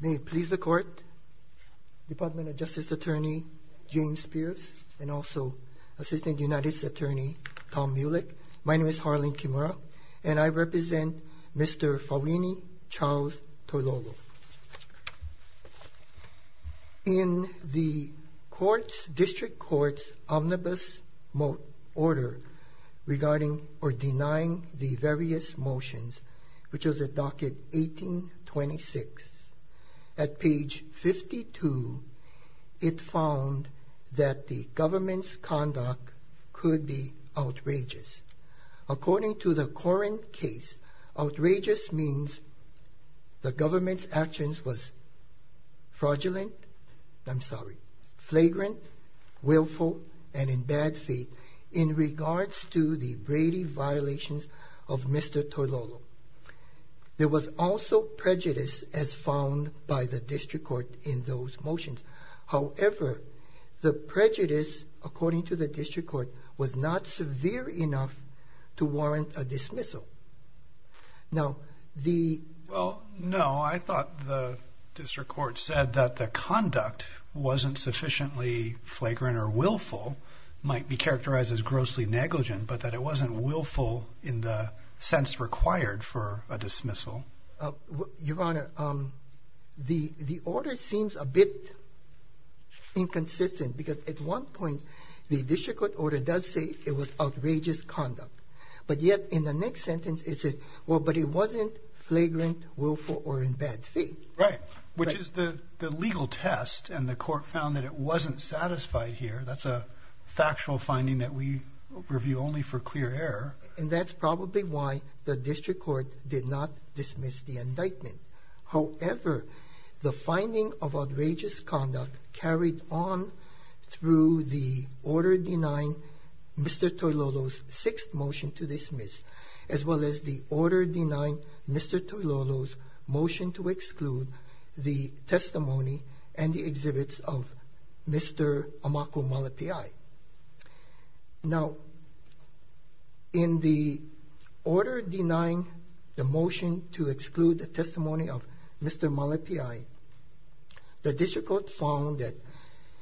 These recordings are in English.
May it please the court, Department of Justice Attorney James Spears and also Assistant United States Attorney Tom Mulick. My name is Harlan Kimura and I represent Mr. Fouini Charles Toilolo. In the District Court's omnibus order regarding or denying the various motions which was at docket 1826 at page 52, it found that the government's conduct could be outrageous. According to the current case, outrageous means the government's actions was fraudulent, I'm sorry, flagrant, willful, and in bad faith in regards to the Brady violations of Mr. Toilolo. There was also prejudice as found by the District Court in those motions. However, the prejudice according to the District Court was not severe enough to warrant a dismissal. Now the... Well no, I thought the District Court said that the conduct wasn't sufficiently flagrant or willful, might be characterized as grossly negligent, but that it wasn't willful in the sense required for a dismissal. Your Honor, the the order seems a bit inconsistent because at one point the District Court order does say it was outrageous conduct, but yet in the next sentence it said, well but it wasn't flagrant, willful, or in bad faith. Right, which is the the legal test and the court found that it wasn't satisfied here. That's a factual finding that we review only for clear error. And that's probably why the District Court did not dismiss the indictment. However, the finding of outrageous conduct carried on through the order denying Mr. Toilolo's sixth motion to dismiss, as well as the order denying Mr. Toilolo's motion to exclude the testimony and the exhibits of Mr. Amaku Malapiai. Now in the order denying the motion to exclude the testimony of Mr. Malapiai, the District Court found that,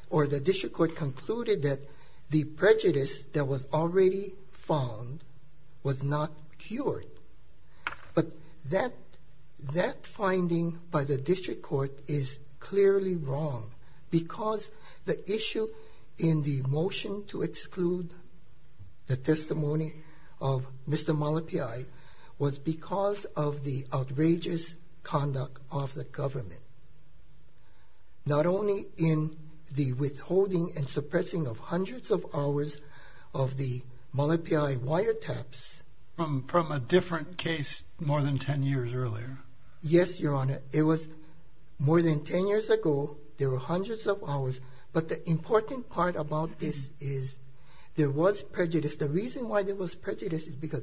or the District Court concluded that the prejudice that was already found was not cured. But that finding by the District Court is clearly wrong because the issue in the motion to exclude the testimony of Mr. Malapiai was because of the outrageous conduct of the government. Not only in the withholding and suppressing of hundreds of hours of the Malapiai wiretaps. From a different case more than 10 years earlier. Yes, Your Honor. It was more than 10 years ago. There were hundreds of hours. But the important part about this is there was prejudice. The reason why there was prejudice is because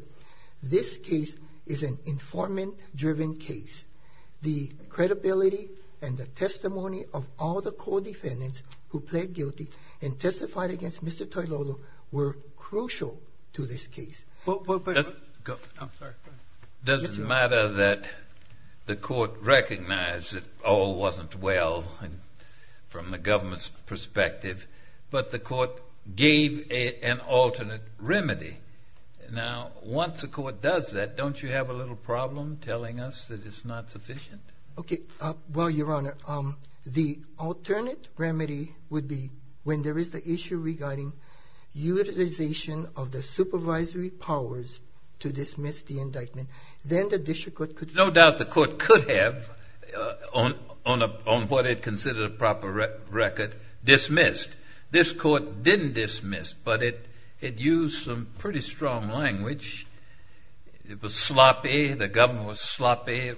this case is an informant driven case. The credibility and the testimony of all the co-defendants who pled guilty and testified against Mr. Toilolo were crucial to this case. It doesn't matter that the court recognized that all wasn't well from the government's perspective, but the court gave an alternate remedy. Now once the court does that, don't you have a little problem telling us that it's not sufficient? Okay, well, Your Honor, the alternate remedy would be when there is the issue regarding utilization of the supervisory powers to dismiss the indictment, then the district court could... No doubt the court could have, on what it considered a proper record, dismissed. This court didn't dismiss, but it had used some pretty strong language. It was sloppy. The government was sloppy.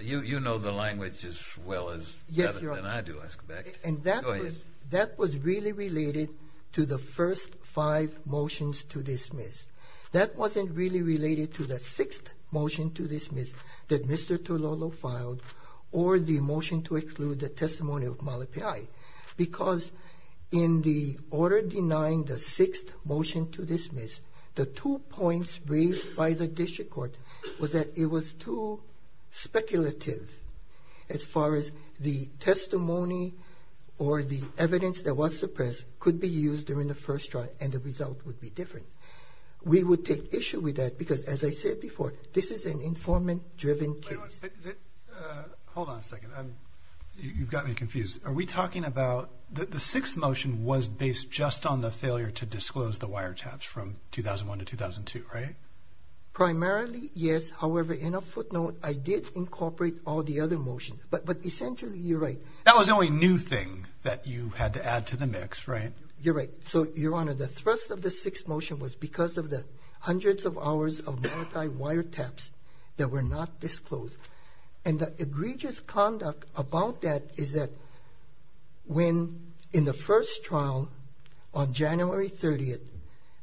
You know the language as well as I do, I suspect. And that was really related to the first five motions to dismiss. That wasn't really related to the sixth motion to dismiss that Mr. Toilolo filed or the motion to exclude the testimony of Malapai. Because in the order denying the sixth motion to dismiss, the two points raised by the testimony or the evidence that was suppressed could be used during the first trial and the result would be different. We would take issue with that because, as I said before, this is an informant-driven case. Hold on a second. You've got me confused. Are we talking about the sixth motion was based just on the failure to disclose the wiretaps from 2001 to 2002, right? Primarily, yes. However, in a footnote, I did incorporate all the other motions. But essentially you're right. That was the only new thing that you had to add to the mix, right? You're right. So, Your Honor, the thrust of the sixth motion was because of the hundreds of hours of multi-wiretaps that were not disclosed. And the egregious conduct about that is that when, in the first trial on January 30th,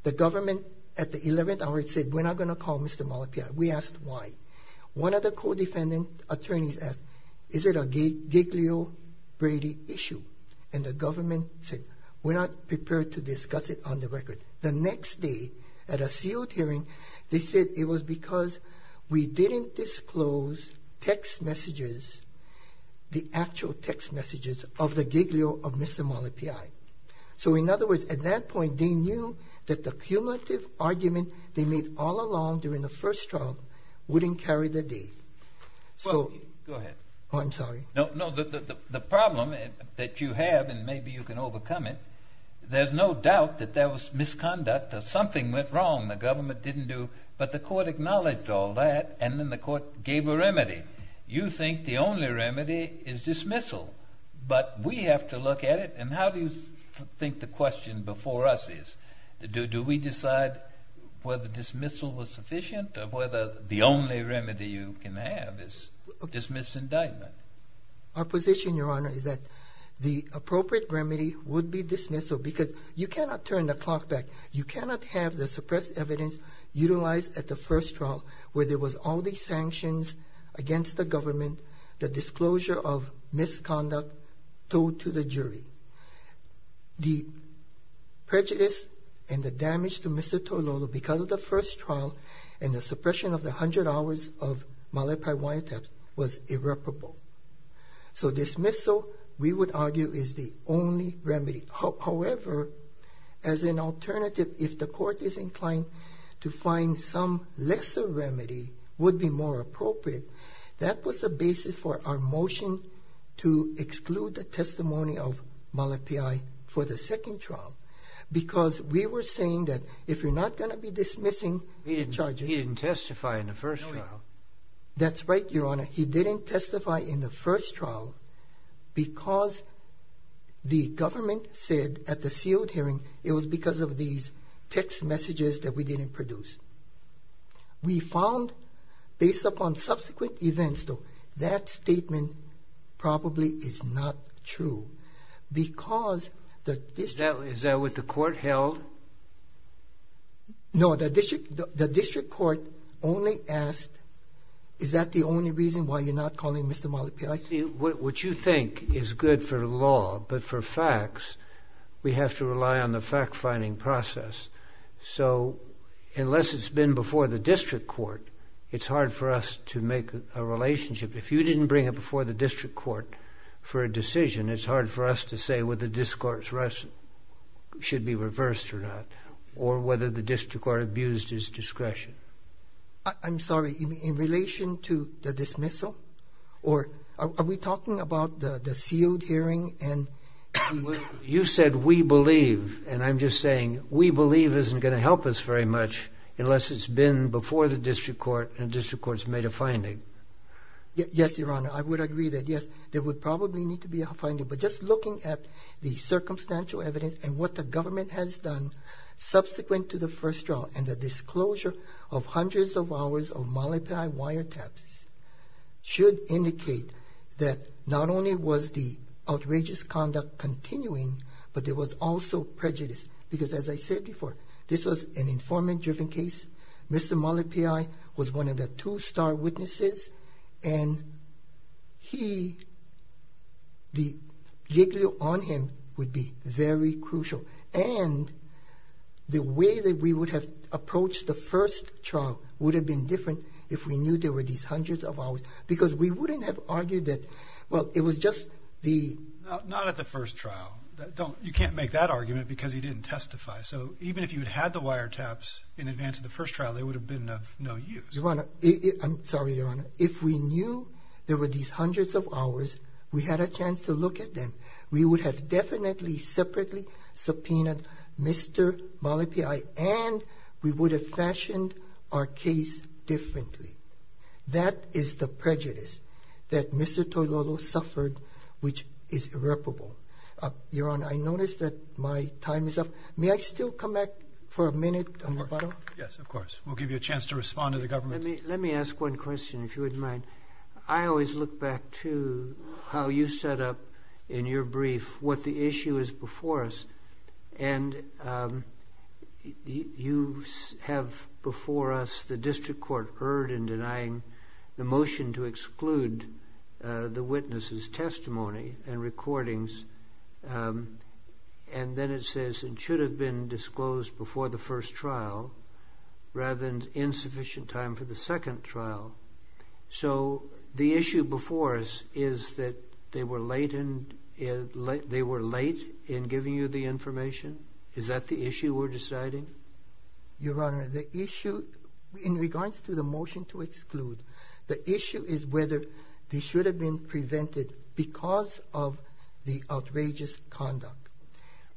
the government at the 11th hour said, we're not going to call Mr. Malapai. We asked why. One of the co-defendant attorneys asked, is it a Giglio-Brady issue? And the government said, we're not prepared to discuss it on the record. The next day, at a sealed hearing, they said it was because we didn't disclose text messages, the actual text messages of the Giglio of Mr. Malapai. So, in other words, at that point, they knew that the cumulative argument they made all along during the first trial wouldn't carry the day. So... Go ahead. Oh, I'm sorry. No, no. The problem that you have, and maybe you can overcome it, there's no doubt that there was misconduct or something went wrong the government didn't do, but the court acknowledged all that, and then the court gave a remedy. You think the only remedy is dismissal, but we have to look at it. And how do you think the question before us is, do we decide whether dismissal was sufficient or whether the only remedy you can have is dismissal indictment? Our position, Your Honor, is that the appropriate remedy would be dismissal, because you cannot turn the clock back. You cannot have the suppressed evidence utilized at the first trial, where there was all these sanctions against the government, the disclosure of misconduct told to the jury. The prejudice and the damage to Mr. Toilolo because of the first trial and the suppression of the 100 hours of Malak Pai Waiata was irreparable. So dismissal, we would argue, is the only remedy. However, as an alternative, if the court is inclined to find some lesser remedy would be more appropriate. That was the basis for our motion to exclude the testimony of Malak Pai for the second trial, because we were saying that if you're not going to be dismissing the charges. He didn't testify in the first trial. That's right, Your Honor. He didn't testify in the first trial because the government said at the sealed hearing it was because of these text messages that we didn't produce. We found, based upon subsequent events though, that statement probably is not true, because the district... Is that what the court held? No, the district court only asked, is that the only reason why you're not calling Mr. Malak Pai? What you think is good for law, but for facts, we have to rely on the fact-finding process. So unless it's been before the district court, it's hard for us to make a relationship. If you didn't bring it before the district court for a decision, it's hard for us to say whether the discourse should be reversed or not, or whether the district court abused his discretion. I'm sorry, in relation to the dismissal? Are we talking about the sealed hearing? You said we believe, and I'm just saying, we believe isn't going to help us very much unless it's been before the district court and the district court's made a finding. Yes, Your Honor, I would agree that yes, there would probably need to be a finding, but just looking at the circumstantial evidence and what the government has done subsequent to the first trial, and the disclosure of hundreds of hours of Malak Pai wiretaps should indicate that not only was the outrageous conduct continuing, but there was also prejudice, because as I said before, this was an informant-driven case. Mr. Malak Pai was one of the two star witnesses, and he, the jiggle on him would be very crucial, and the way that we would have approached the first trial would have been different if we knew there were these hundreds of hours, because we wouldn't have argued that, well, it was just the... Not at the first trial, that don't, you can't make that argument because he didn't testify, so even if you didn't testify at the first trial, it would have been of no use. Your Honor, I'm sorry, Your Honor, if we knew there were these hundreds of hours, we had a chance to look at them. We would have definitely separately subpoenaed Mr. Malak Pai, and we would have fashioned our case differently. That is the prejudice that Mr. Toilolo suffered, which is irreparable. Your Honor, I notice that my time is up. May I still come back for a minute on the case? Of course. We'll give you a chance to respond to the government. Let me ask one question, if you wouldn't mind. I always look back to how you set up, in your brief, what the issue is before us, and you have before us the district court heard in denying the motion to exclude the witness's testimony and recordings, and then it says it should have been disclosed before the first trial, rather than insufficient time for the second trial. So the issue before us is that they were late in giving you the information? Is that the issue we're deciding? Your Honor, the issue in regards to the motion to exclude, the issue is whether they should have been prevented because of the outrageous conduct.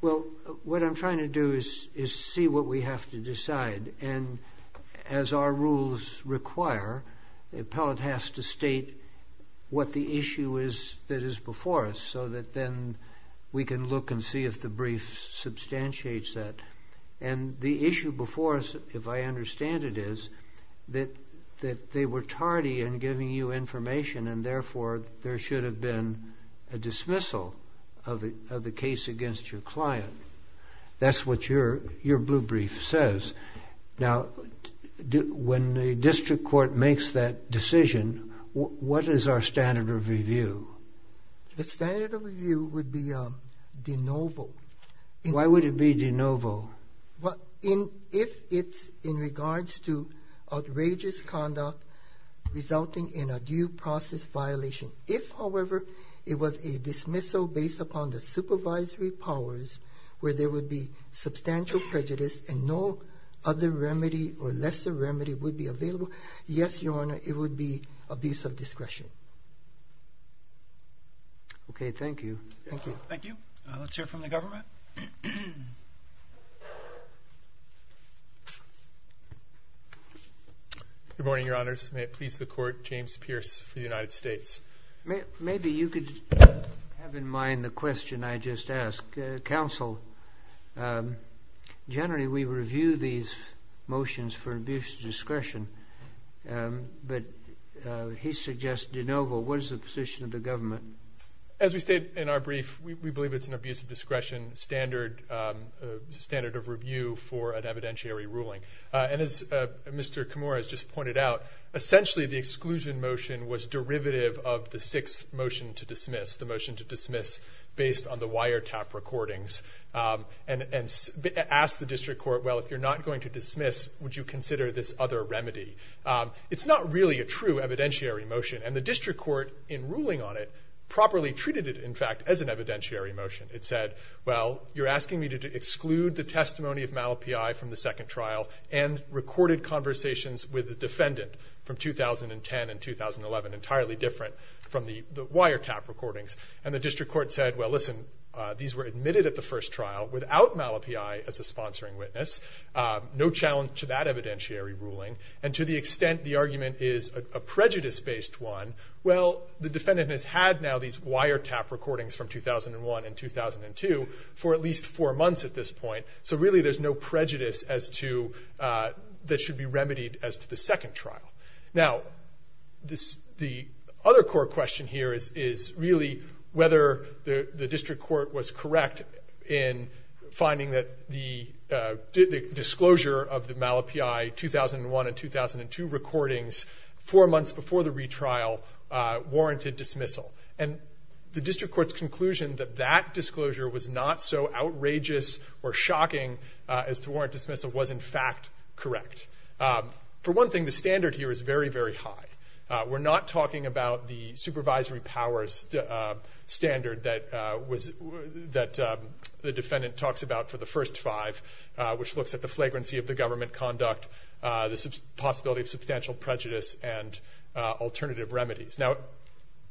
Well, what I'm trying to do is see what we have to decide, and as our rules require, the appellate has to state what the issue is that is before us, so that then we can look and see if the brief substantiates that. And the issue before us, if I understand it, is that they were tardy in giving you information, and therefore there should have been a dismissal of the case against your client. That's what your blue brief says. Now, when the district court makes that decision, what is our standard of review? The standard of review would be de novo. Why would it be de novo? Well, if it's in regards to resulting in a due process violation. If, however, it was a dismissal based upon the supervisory powers where there would be substantial prejudice and no other remedy or lesser remedy would be available, yes, your Honor, it would be abuse of discretion. Okay, thank you. Thank you. Thank you. Let's hear from the court. James Pierce for the United States. Maybe you could have in mind the question I just asked. Counsel, generally we review these motions for abuse of discretion, but he suggested de novo. What is the position of the government? As we state in our brief, we believe it's an abuse of discretion standard of review for an evidentiary ruling. And as Mr. Kimura has just pointed out, essentially the exclusion motion was derivative of the sixth motion to dismiss, the motion to dismiss based on the wiretap recordings, and asked the district court, well, if you're not going to dismiss, would you consider this other remedy? It's not really a true evidentiary motion, and the district court, in ruling on it, properly treated it, in fact, as an evidentiary motion. It said, well, you're asking me to exclude the testimony of Mal P.I. from the second trial, from 2010 and 2011, entirely different from the wiretap recordings. And the district court said, well, listen, these were admitted at the first trial without Mal P.I. as a sponsoring witness, no challenge to that evidentiary ruling. And to the extent the argument is a prejudice-based one, well, the defendant has had now these wiretap recordings from 2001 and 2002 for at least four months at this point. So really there's no prejudice as to, that should be remedied as to the Now, the other core question here is really whether the district court was correct in finding that the disclosure of the Mal P.I. 2001 and 2002 recordings, four months before the retrial, warranted dismissal. And the district court's conclusion that that disclosure was not so outrageous or shocking as to warrant correct. For one thing, the standard here is very, very high. We're not talking about the supervisory powers standard that the defendant talks about for the first five, which looks at the flagrancy of the government conduct, the possibility of substantial prejudice, and alternative remedies. Now,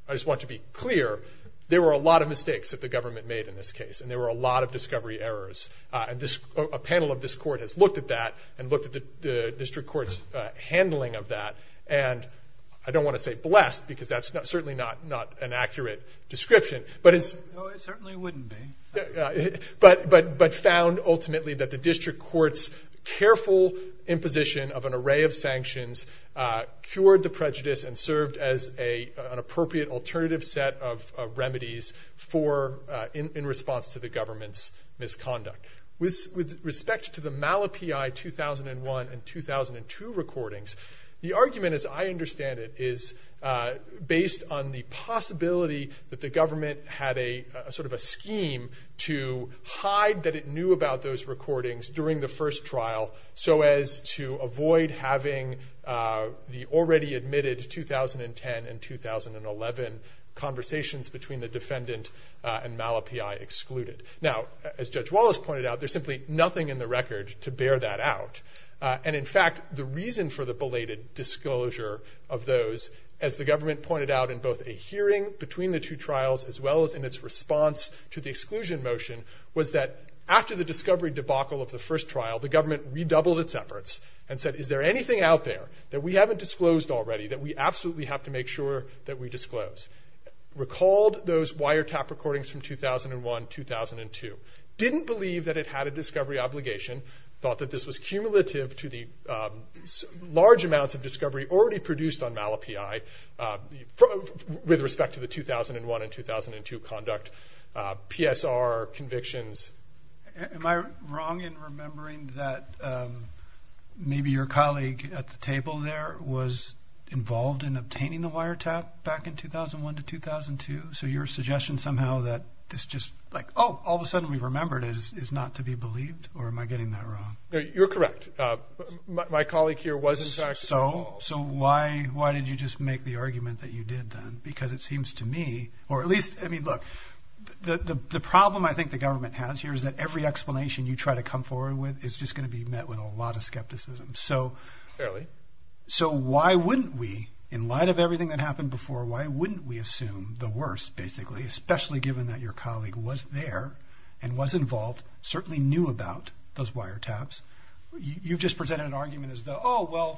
I just want to be clear, there were a lot of mistakes that the government made in this case, and there were a lot of discovery errors. And a panel of this court has looked at that, and looked at the district court's handling of that. And I don't want to say blessed, because that's certainly not an accurate description. But it's... No, it certainly wouldn't be. But found ultimately that the district court's careful imposition of an array of sanctions cured the prejudice and served as an appropriate alternative set of remedies for, in response to the government's misconduct. With respect to the Malapii 2001 and 2002 recordings, the argument, as I understand it, is based on the possibility that the government had a sort of a scheme to hide that it knew about those recordings during the first trial, so as to avoid having the already admitted 2010 and 2011 conversations between the defendant and Malapii excluded. Now, as Judge Wallace pointed out, there's simply nothing in the record to bear that out. And in fact, the reason for the belated disclosure of those, as the government pointed out in both a hearing between the two trials, as well as in its response to the exclusion motion, was that after the discovery debacle of the first trial, the government redoubled its efforts and said, is there anything out there that we haven't disclosed already that we absolutely have to make sure that we disclose? Recalled those wiretap recordings from 2001, 2002. Didn't believe that it had a discovery obligation. Thought that this was cumulative to the large amounts of discovery already produced on Malapii with respect to the 2001 and 2002 conduct, PSR convictions. Am I wrong in remembering that maybe your colleague at the table there was involved in obtaining the wiretap back in 2001 to 2002? So your suggestion somehow that this just like, oh, all of a sudden we believed, or am I getting that wrong? You're correct. My colleague here was involved. So why did you just make the argument that you did then? Because it seems to me, or at least, I mean, look, the problem I think the government has here is that every explanation you try to come forward with is just going to be met with a lot of skepticism. Fairly. So why wouldn't we, in light of everything that happened before, why wouldn't we assume the worst, basically, especially given that your colleague was there and was involved, certainly knew about those wiretaps? You've just presented an argument as though, oh, well,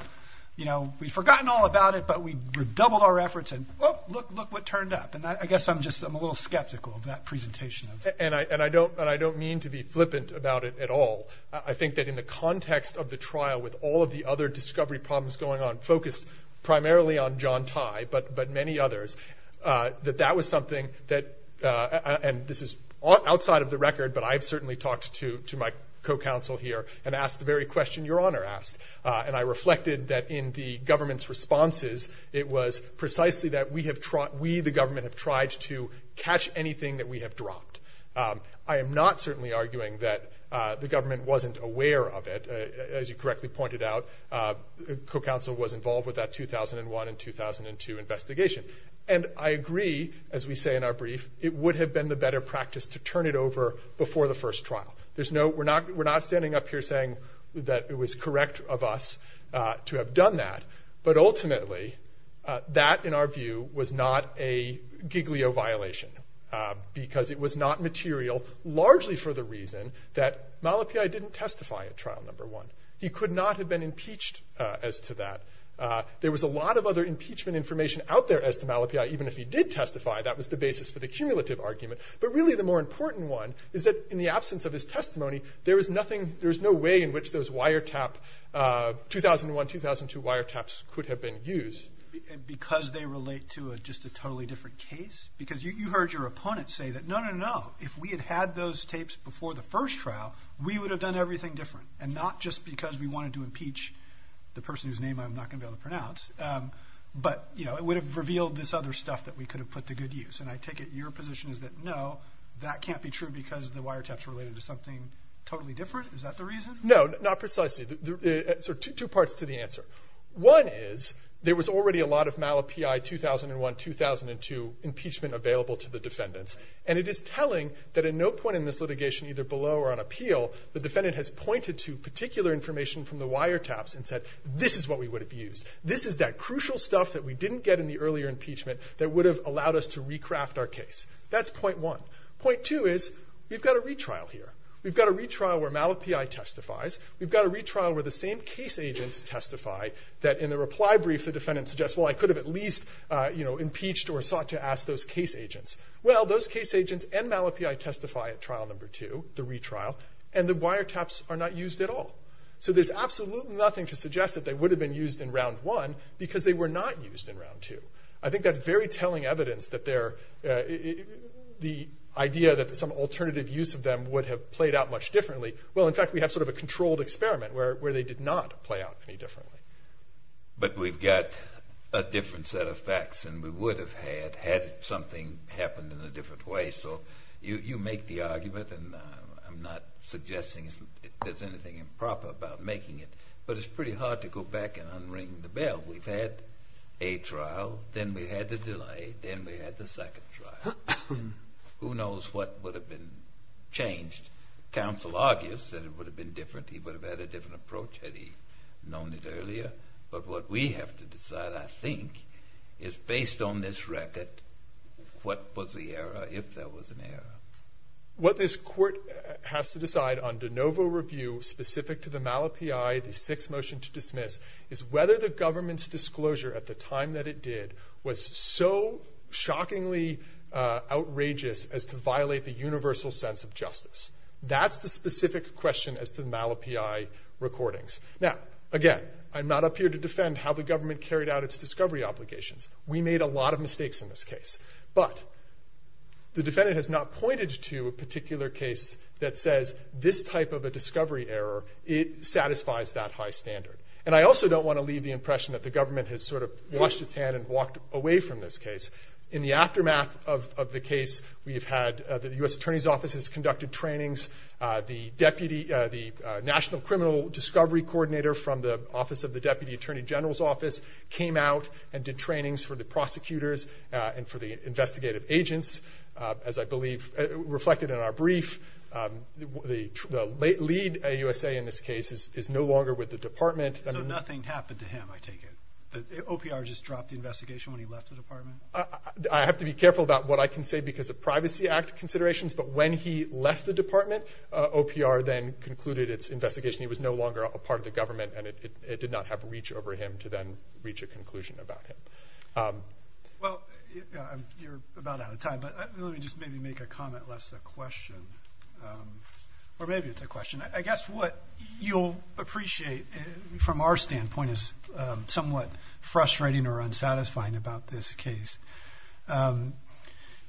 you know, we've forgotten all about it, but we doubled our efforts and, oh, look, look what turned up. And I guess I'm just, I'm a little skeptical of that presentation. And I, and I don't, and I don't mean to be flippant about it at all. I think that in the context of the trial with all of the other discovery problems going on, focused primarily on John Tai, but, but many others, that that was something that, and this is outside of the record, but I've certainly talked to, to my co-counsel here and asked the very question Your Honor asked. And I reflected that in the government's responses, it was precisely that we have, we, the government, have tried to catch anything that we have dropped. I am not certainly arguing that the government wasn't aware of it. As you correctly pointed out, co-counsel was at 2001 and 2002 investigation. And I agree, as we say in our brief, it would have been the better practice to turn it over before the first trial. There's no, we're not, we're not standing up here saying that it was correct of us to have done that. But ultimately, that, in our view, was not a giglio violation. Because it was not material, largely for the reason that Malapiai didn't testify at There was a lot of other impeachment information out there as to Malapiai, even if he did testify, that was the basis for the cumulative argument. But really, the more important one is that in the absence of his testimony, there was nothing, there's no way in which those wiretap, 2001-2002 wiretaps, could have been used. Because they relate to a, just a totally different case? Because you, you heard your opponent say that, no, no, no, if we had had those tapes before the first trial, we would have done everything different. And not just because we wanted to impeach the person whose name I'm not going to be able to pronounce. But, you know, it would have revealed this other stuff that we could have put to good use. And I take it your position is that, no, that can't be true because the wiretaps were related to something totally different? Is that the reason? No, not precisely. There are two parts to the answer. One is, there was already a lot of Malapiai 2001-2002 impeachment available to the defendants. And it is telling that at no point in this litigation, either below or on the ground, did we get information from the wiretaps and said, this is what we would have used. This is that crucial stuff that we didn't get in the earlier impeachment that would have allowed us to recraft our case. That's point one. Point two is, we've got a retrial here. We've got a retrial where Malapiai testifies. We've got a retrial where the same case agents testify that in the reply brief the defendant suggests, well, I could have at least, you know, impeached or sought to ask those case agents. Well, those case agents and Malapiai testify at trial number two, the retrial, and the wiretaps are not used at all. So there's absolutely nothing to suggest that they would have been used in round one because they were not used in round two. I think that's very telling evidence that they're, the idea that some alternative use of them would have played out much differently. Well, in fact, we have sort of a controlled experiment where they did not play out any differently. But we've got a different set of facts and we would have had had something happened in a different way. So you make the argument and I'm not suggesting there's anything improper about making it, but it's pretty hard to go back and unring the bell. We've had a trial, then we had the delay, then we had the second trial. Who knows what would have been changed. Counsel argues that it would have been different. He would have had a different approach had he known it earlier. But what we have to decide, I think, is based on this record, what was the error, if there was an error. What this court has to decide on de novo review specific to the MALA-PI, the sixth motion to dismiss, is whether the government's disclosure at the time that it did was so shockingly outrageous as to violate the universal sense of justice. That's the specific question as to the MALA-PI recordings. Now, again, I'm not up here to defend how the government has made a lot of mistakes in this case, but the defendant has not pointed to a particular case that says this type of a discovery error, it satisfies that high standard. And I also don't want to leave the impression that the government has sort of washed its hand and walked away from this case. In the aftermath of the case, we've had the U.S. Attorney's Office's conducted trainings. The National Criminal Discovery Coordinator from the Office of the Deputy Attorney General's Office came out and did trainings for the prosecutors and for the investigative agents. As I believe reflected in our brief, the lead AUSA in this case is no longer with the department. So nothing happened to him, I take it? The OPR just dropped the investigation when he left the department? I have to be careful about what I can say because of Privacy Act considerations, but when he left the department, OPR then concluded its investigation. He was no longer a part of the government and it did not have reach over him to then reach a conclusion about him. Well, you're about out of time, but let me just maybe make a comment less a question, or maybe it's a question. I guess what you'll appreciate from our standpoint is somewhat frustrating or unsatisfying about this case,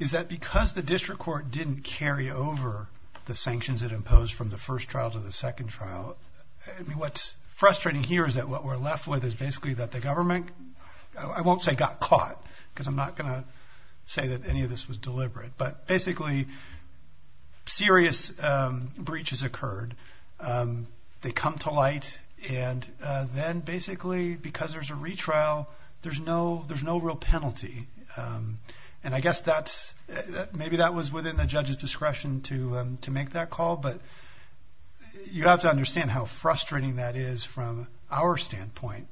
is that because the district court didn't carry over the sanctions that imposed from the first trial to the second trial, what's frustrating here is that what we're left with is basically that the I won't say got caught, because I'm not going to say that any of this was deliberate, but basically serious breaches occurred. They come to light and then basically because there's a retrial, there's no real penalty. And I guess that's maybe that was within the judge's discretion to make that call. But you have to understand how frustrating that is from our standpoint.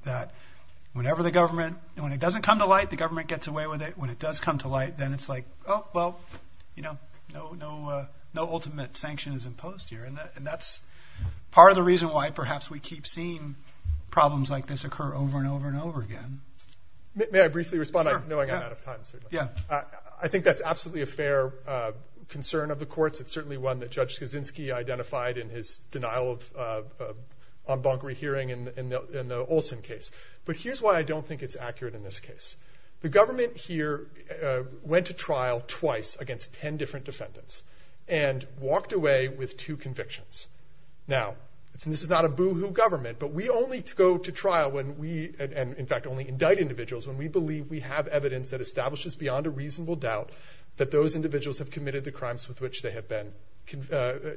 When it doesn't come to light, the government gets away with it. When it does come to light, then it's like, oh, well, no ultimate sanction is imposed here. And that's part of the reason why perhaps we keep seeing problems like this occur over and over and over again. May I briefly respond, knowing I'm out of time, certainly? Yeah. I think that's absolutely a fair concern of the courts. It's certainly one that Judge Kaczynski identified in his denial of bonkery hearing in the Olson case. But here's why I don't think it's accurate in this case. The government here went to trial twice against 10 different defendants and walked away with two convictions. Now, this is not a boo-hoo government, but we only go to trial when we, and in fact only indict individuals, when we believe we have evidence that establishes beyond a reasonable doubt that those individuals have committed the crimes with which they have been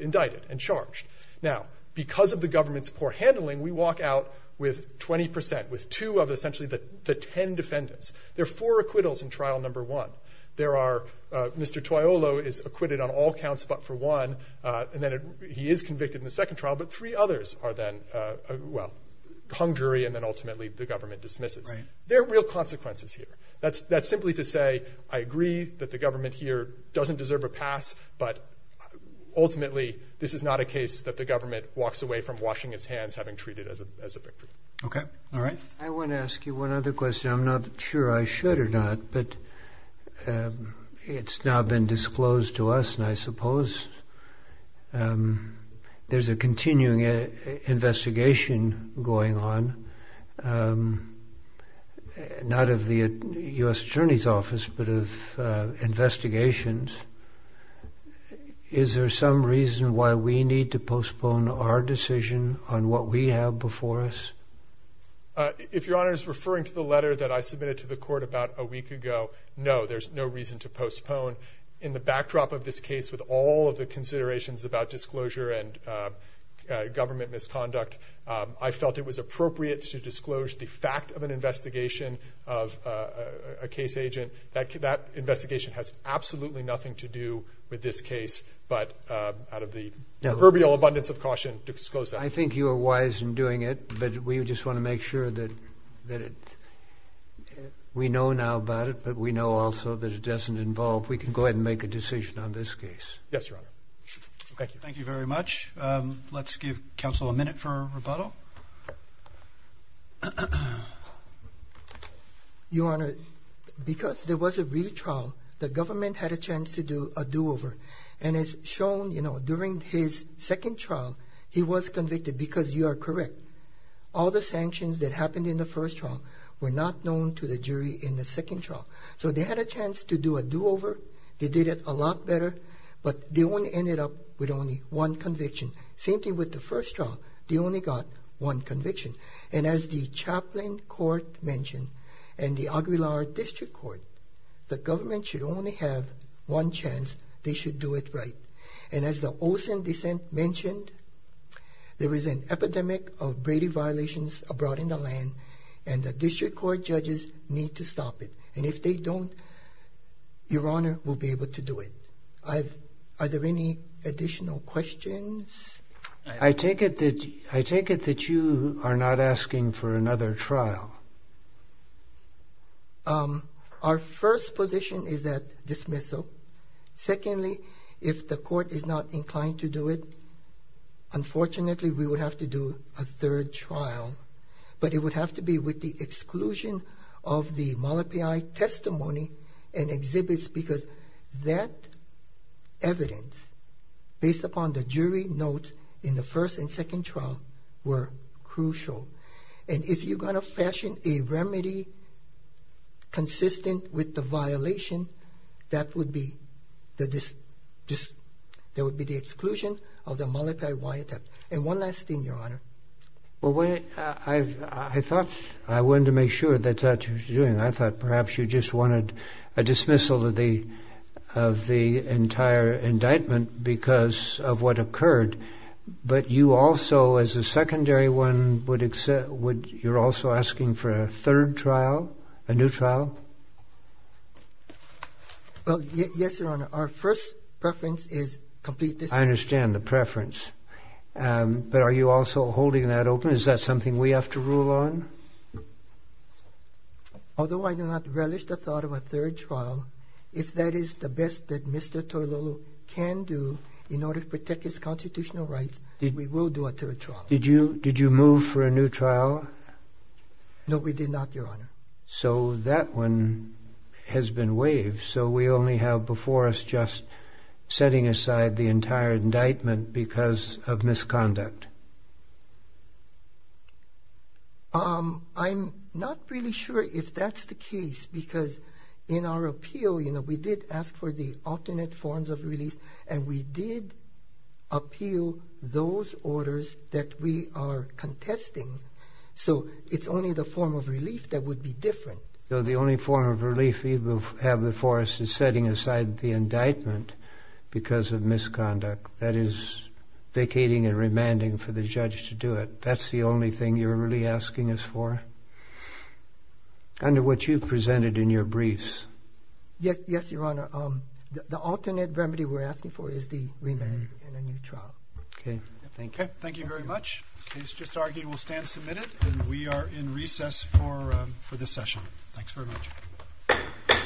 indicted and charged. Now, because of the government's poor handling, we walk out with 20%, with two of essentially the 10 defendants. There are four acquittals in trial number one. There are, Mr. Toiolo is acquitted on all counts but for one, and then he is convicted in the second trial, but three others are then, well, hung jury and then ultimately the government dismisses. There are real consequences here. That's simply to say, I agree that the government here doesn't deserve a pass, but ultimately, this is not a case that the government walks away from washing its hands having treated it as a victory. Okay, all right. I want to ask you one other question. I'm not sure I should or not, but it's now been disclosed to us and I suppose there's a continuing investigation going on, not of the U.S. Attorney's Office, but of investigations. Is there some reason why we need to disclose what we have before us? If Your Honor is referring to the letter that I submitted to the court about a week ago, no, there's no reason to postpone. In the backdrop of this case, with all of the considerations about disclosure and government misconduct, I felt it was appropriate to disclose the fact of an investigation of a case agent. That investigation has absolutely nothing to do with this case, but out of the proverbial abundance of caution, I think you are wise in doing it, but we just want to make sure that we know now about it, but we know also that it doesn't involve, we can go ahead and make a decision on this case. Yes, Your Honor. Thank you very much. Let's give counsel a minute for rebuttal. Your Honor, because there was a retrial, the government had a chance to do a do-over and it's shown, you know, during his second trial, he was convicted because you are correct. All the sanctions that happened in the first trial were not known to the jury in the second trial, so they had a chance to do a do-over. They did it a lot better, but they only ended up with only one conviction. Same thing with the first trial. They only got one conviction, and as the Chaplain Court mentioned and the Aguilar District Court, the government should only have one chance. They should do it right, and as the Olson dissent mentioned, there is an epidemic of Brady violations abroad in the land, and the District Court judges need to stop it, and if they don't, Your Honor will be able to do it. Are there any additional questions? I take it that you are not asking for another trial. Our first position is that unfortunately we would have to do a third trial, but it would have to be with the exclusion of the Malapai testimony and exhibits, because that evidence based upon the jury note in the first and second trial were crucial, and if you're going to fashion a remedy consistent with the violation, that would be the exclusion of the Malapai attempt. And one last thing, Your Honor. I thought I wanted to make sure that's what you're doing. I thought perhaps you just wanted a dismissal of the of the entire indictment because of what occurred, but you also, as a secondary one, you're also asking for a third trial. I understand the preference, but are you also holding that open? Is that something we have to rule on? Although I do not relish the thought of a third trial, if that is the best that Mr. Toilolo can do in order to protect his constitutional rights, we will do a third trial. Did you move for a new trial? No, we did not, Your Honor. So that one has been waived, so we only have a forest just setting aside the entire indictment because of misconduct. I'm not really sure if that's the case, because in our appeal, you know, we did ask for the alternate forms of release, and we did appeal those orders that we are contesting, so it's only the form of relief that would be different. So the only form of relief we will have the forest is setting aside the indictment because of misconduct. That is vacating and remanding for the judge to do it. That's the only thing you're really asking us for? Under what you've presented in your briefs. Yes, Your Honor, the alternate remedy we're asking for is the remand in a new trial. Okay, thank you. Thank you very much. Case just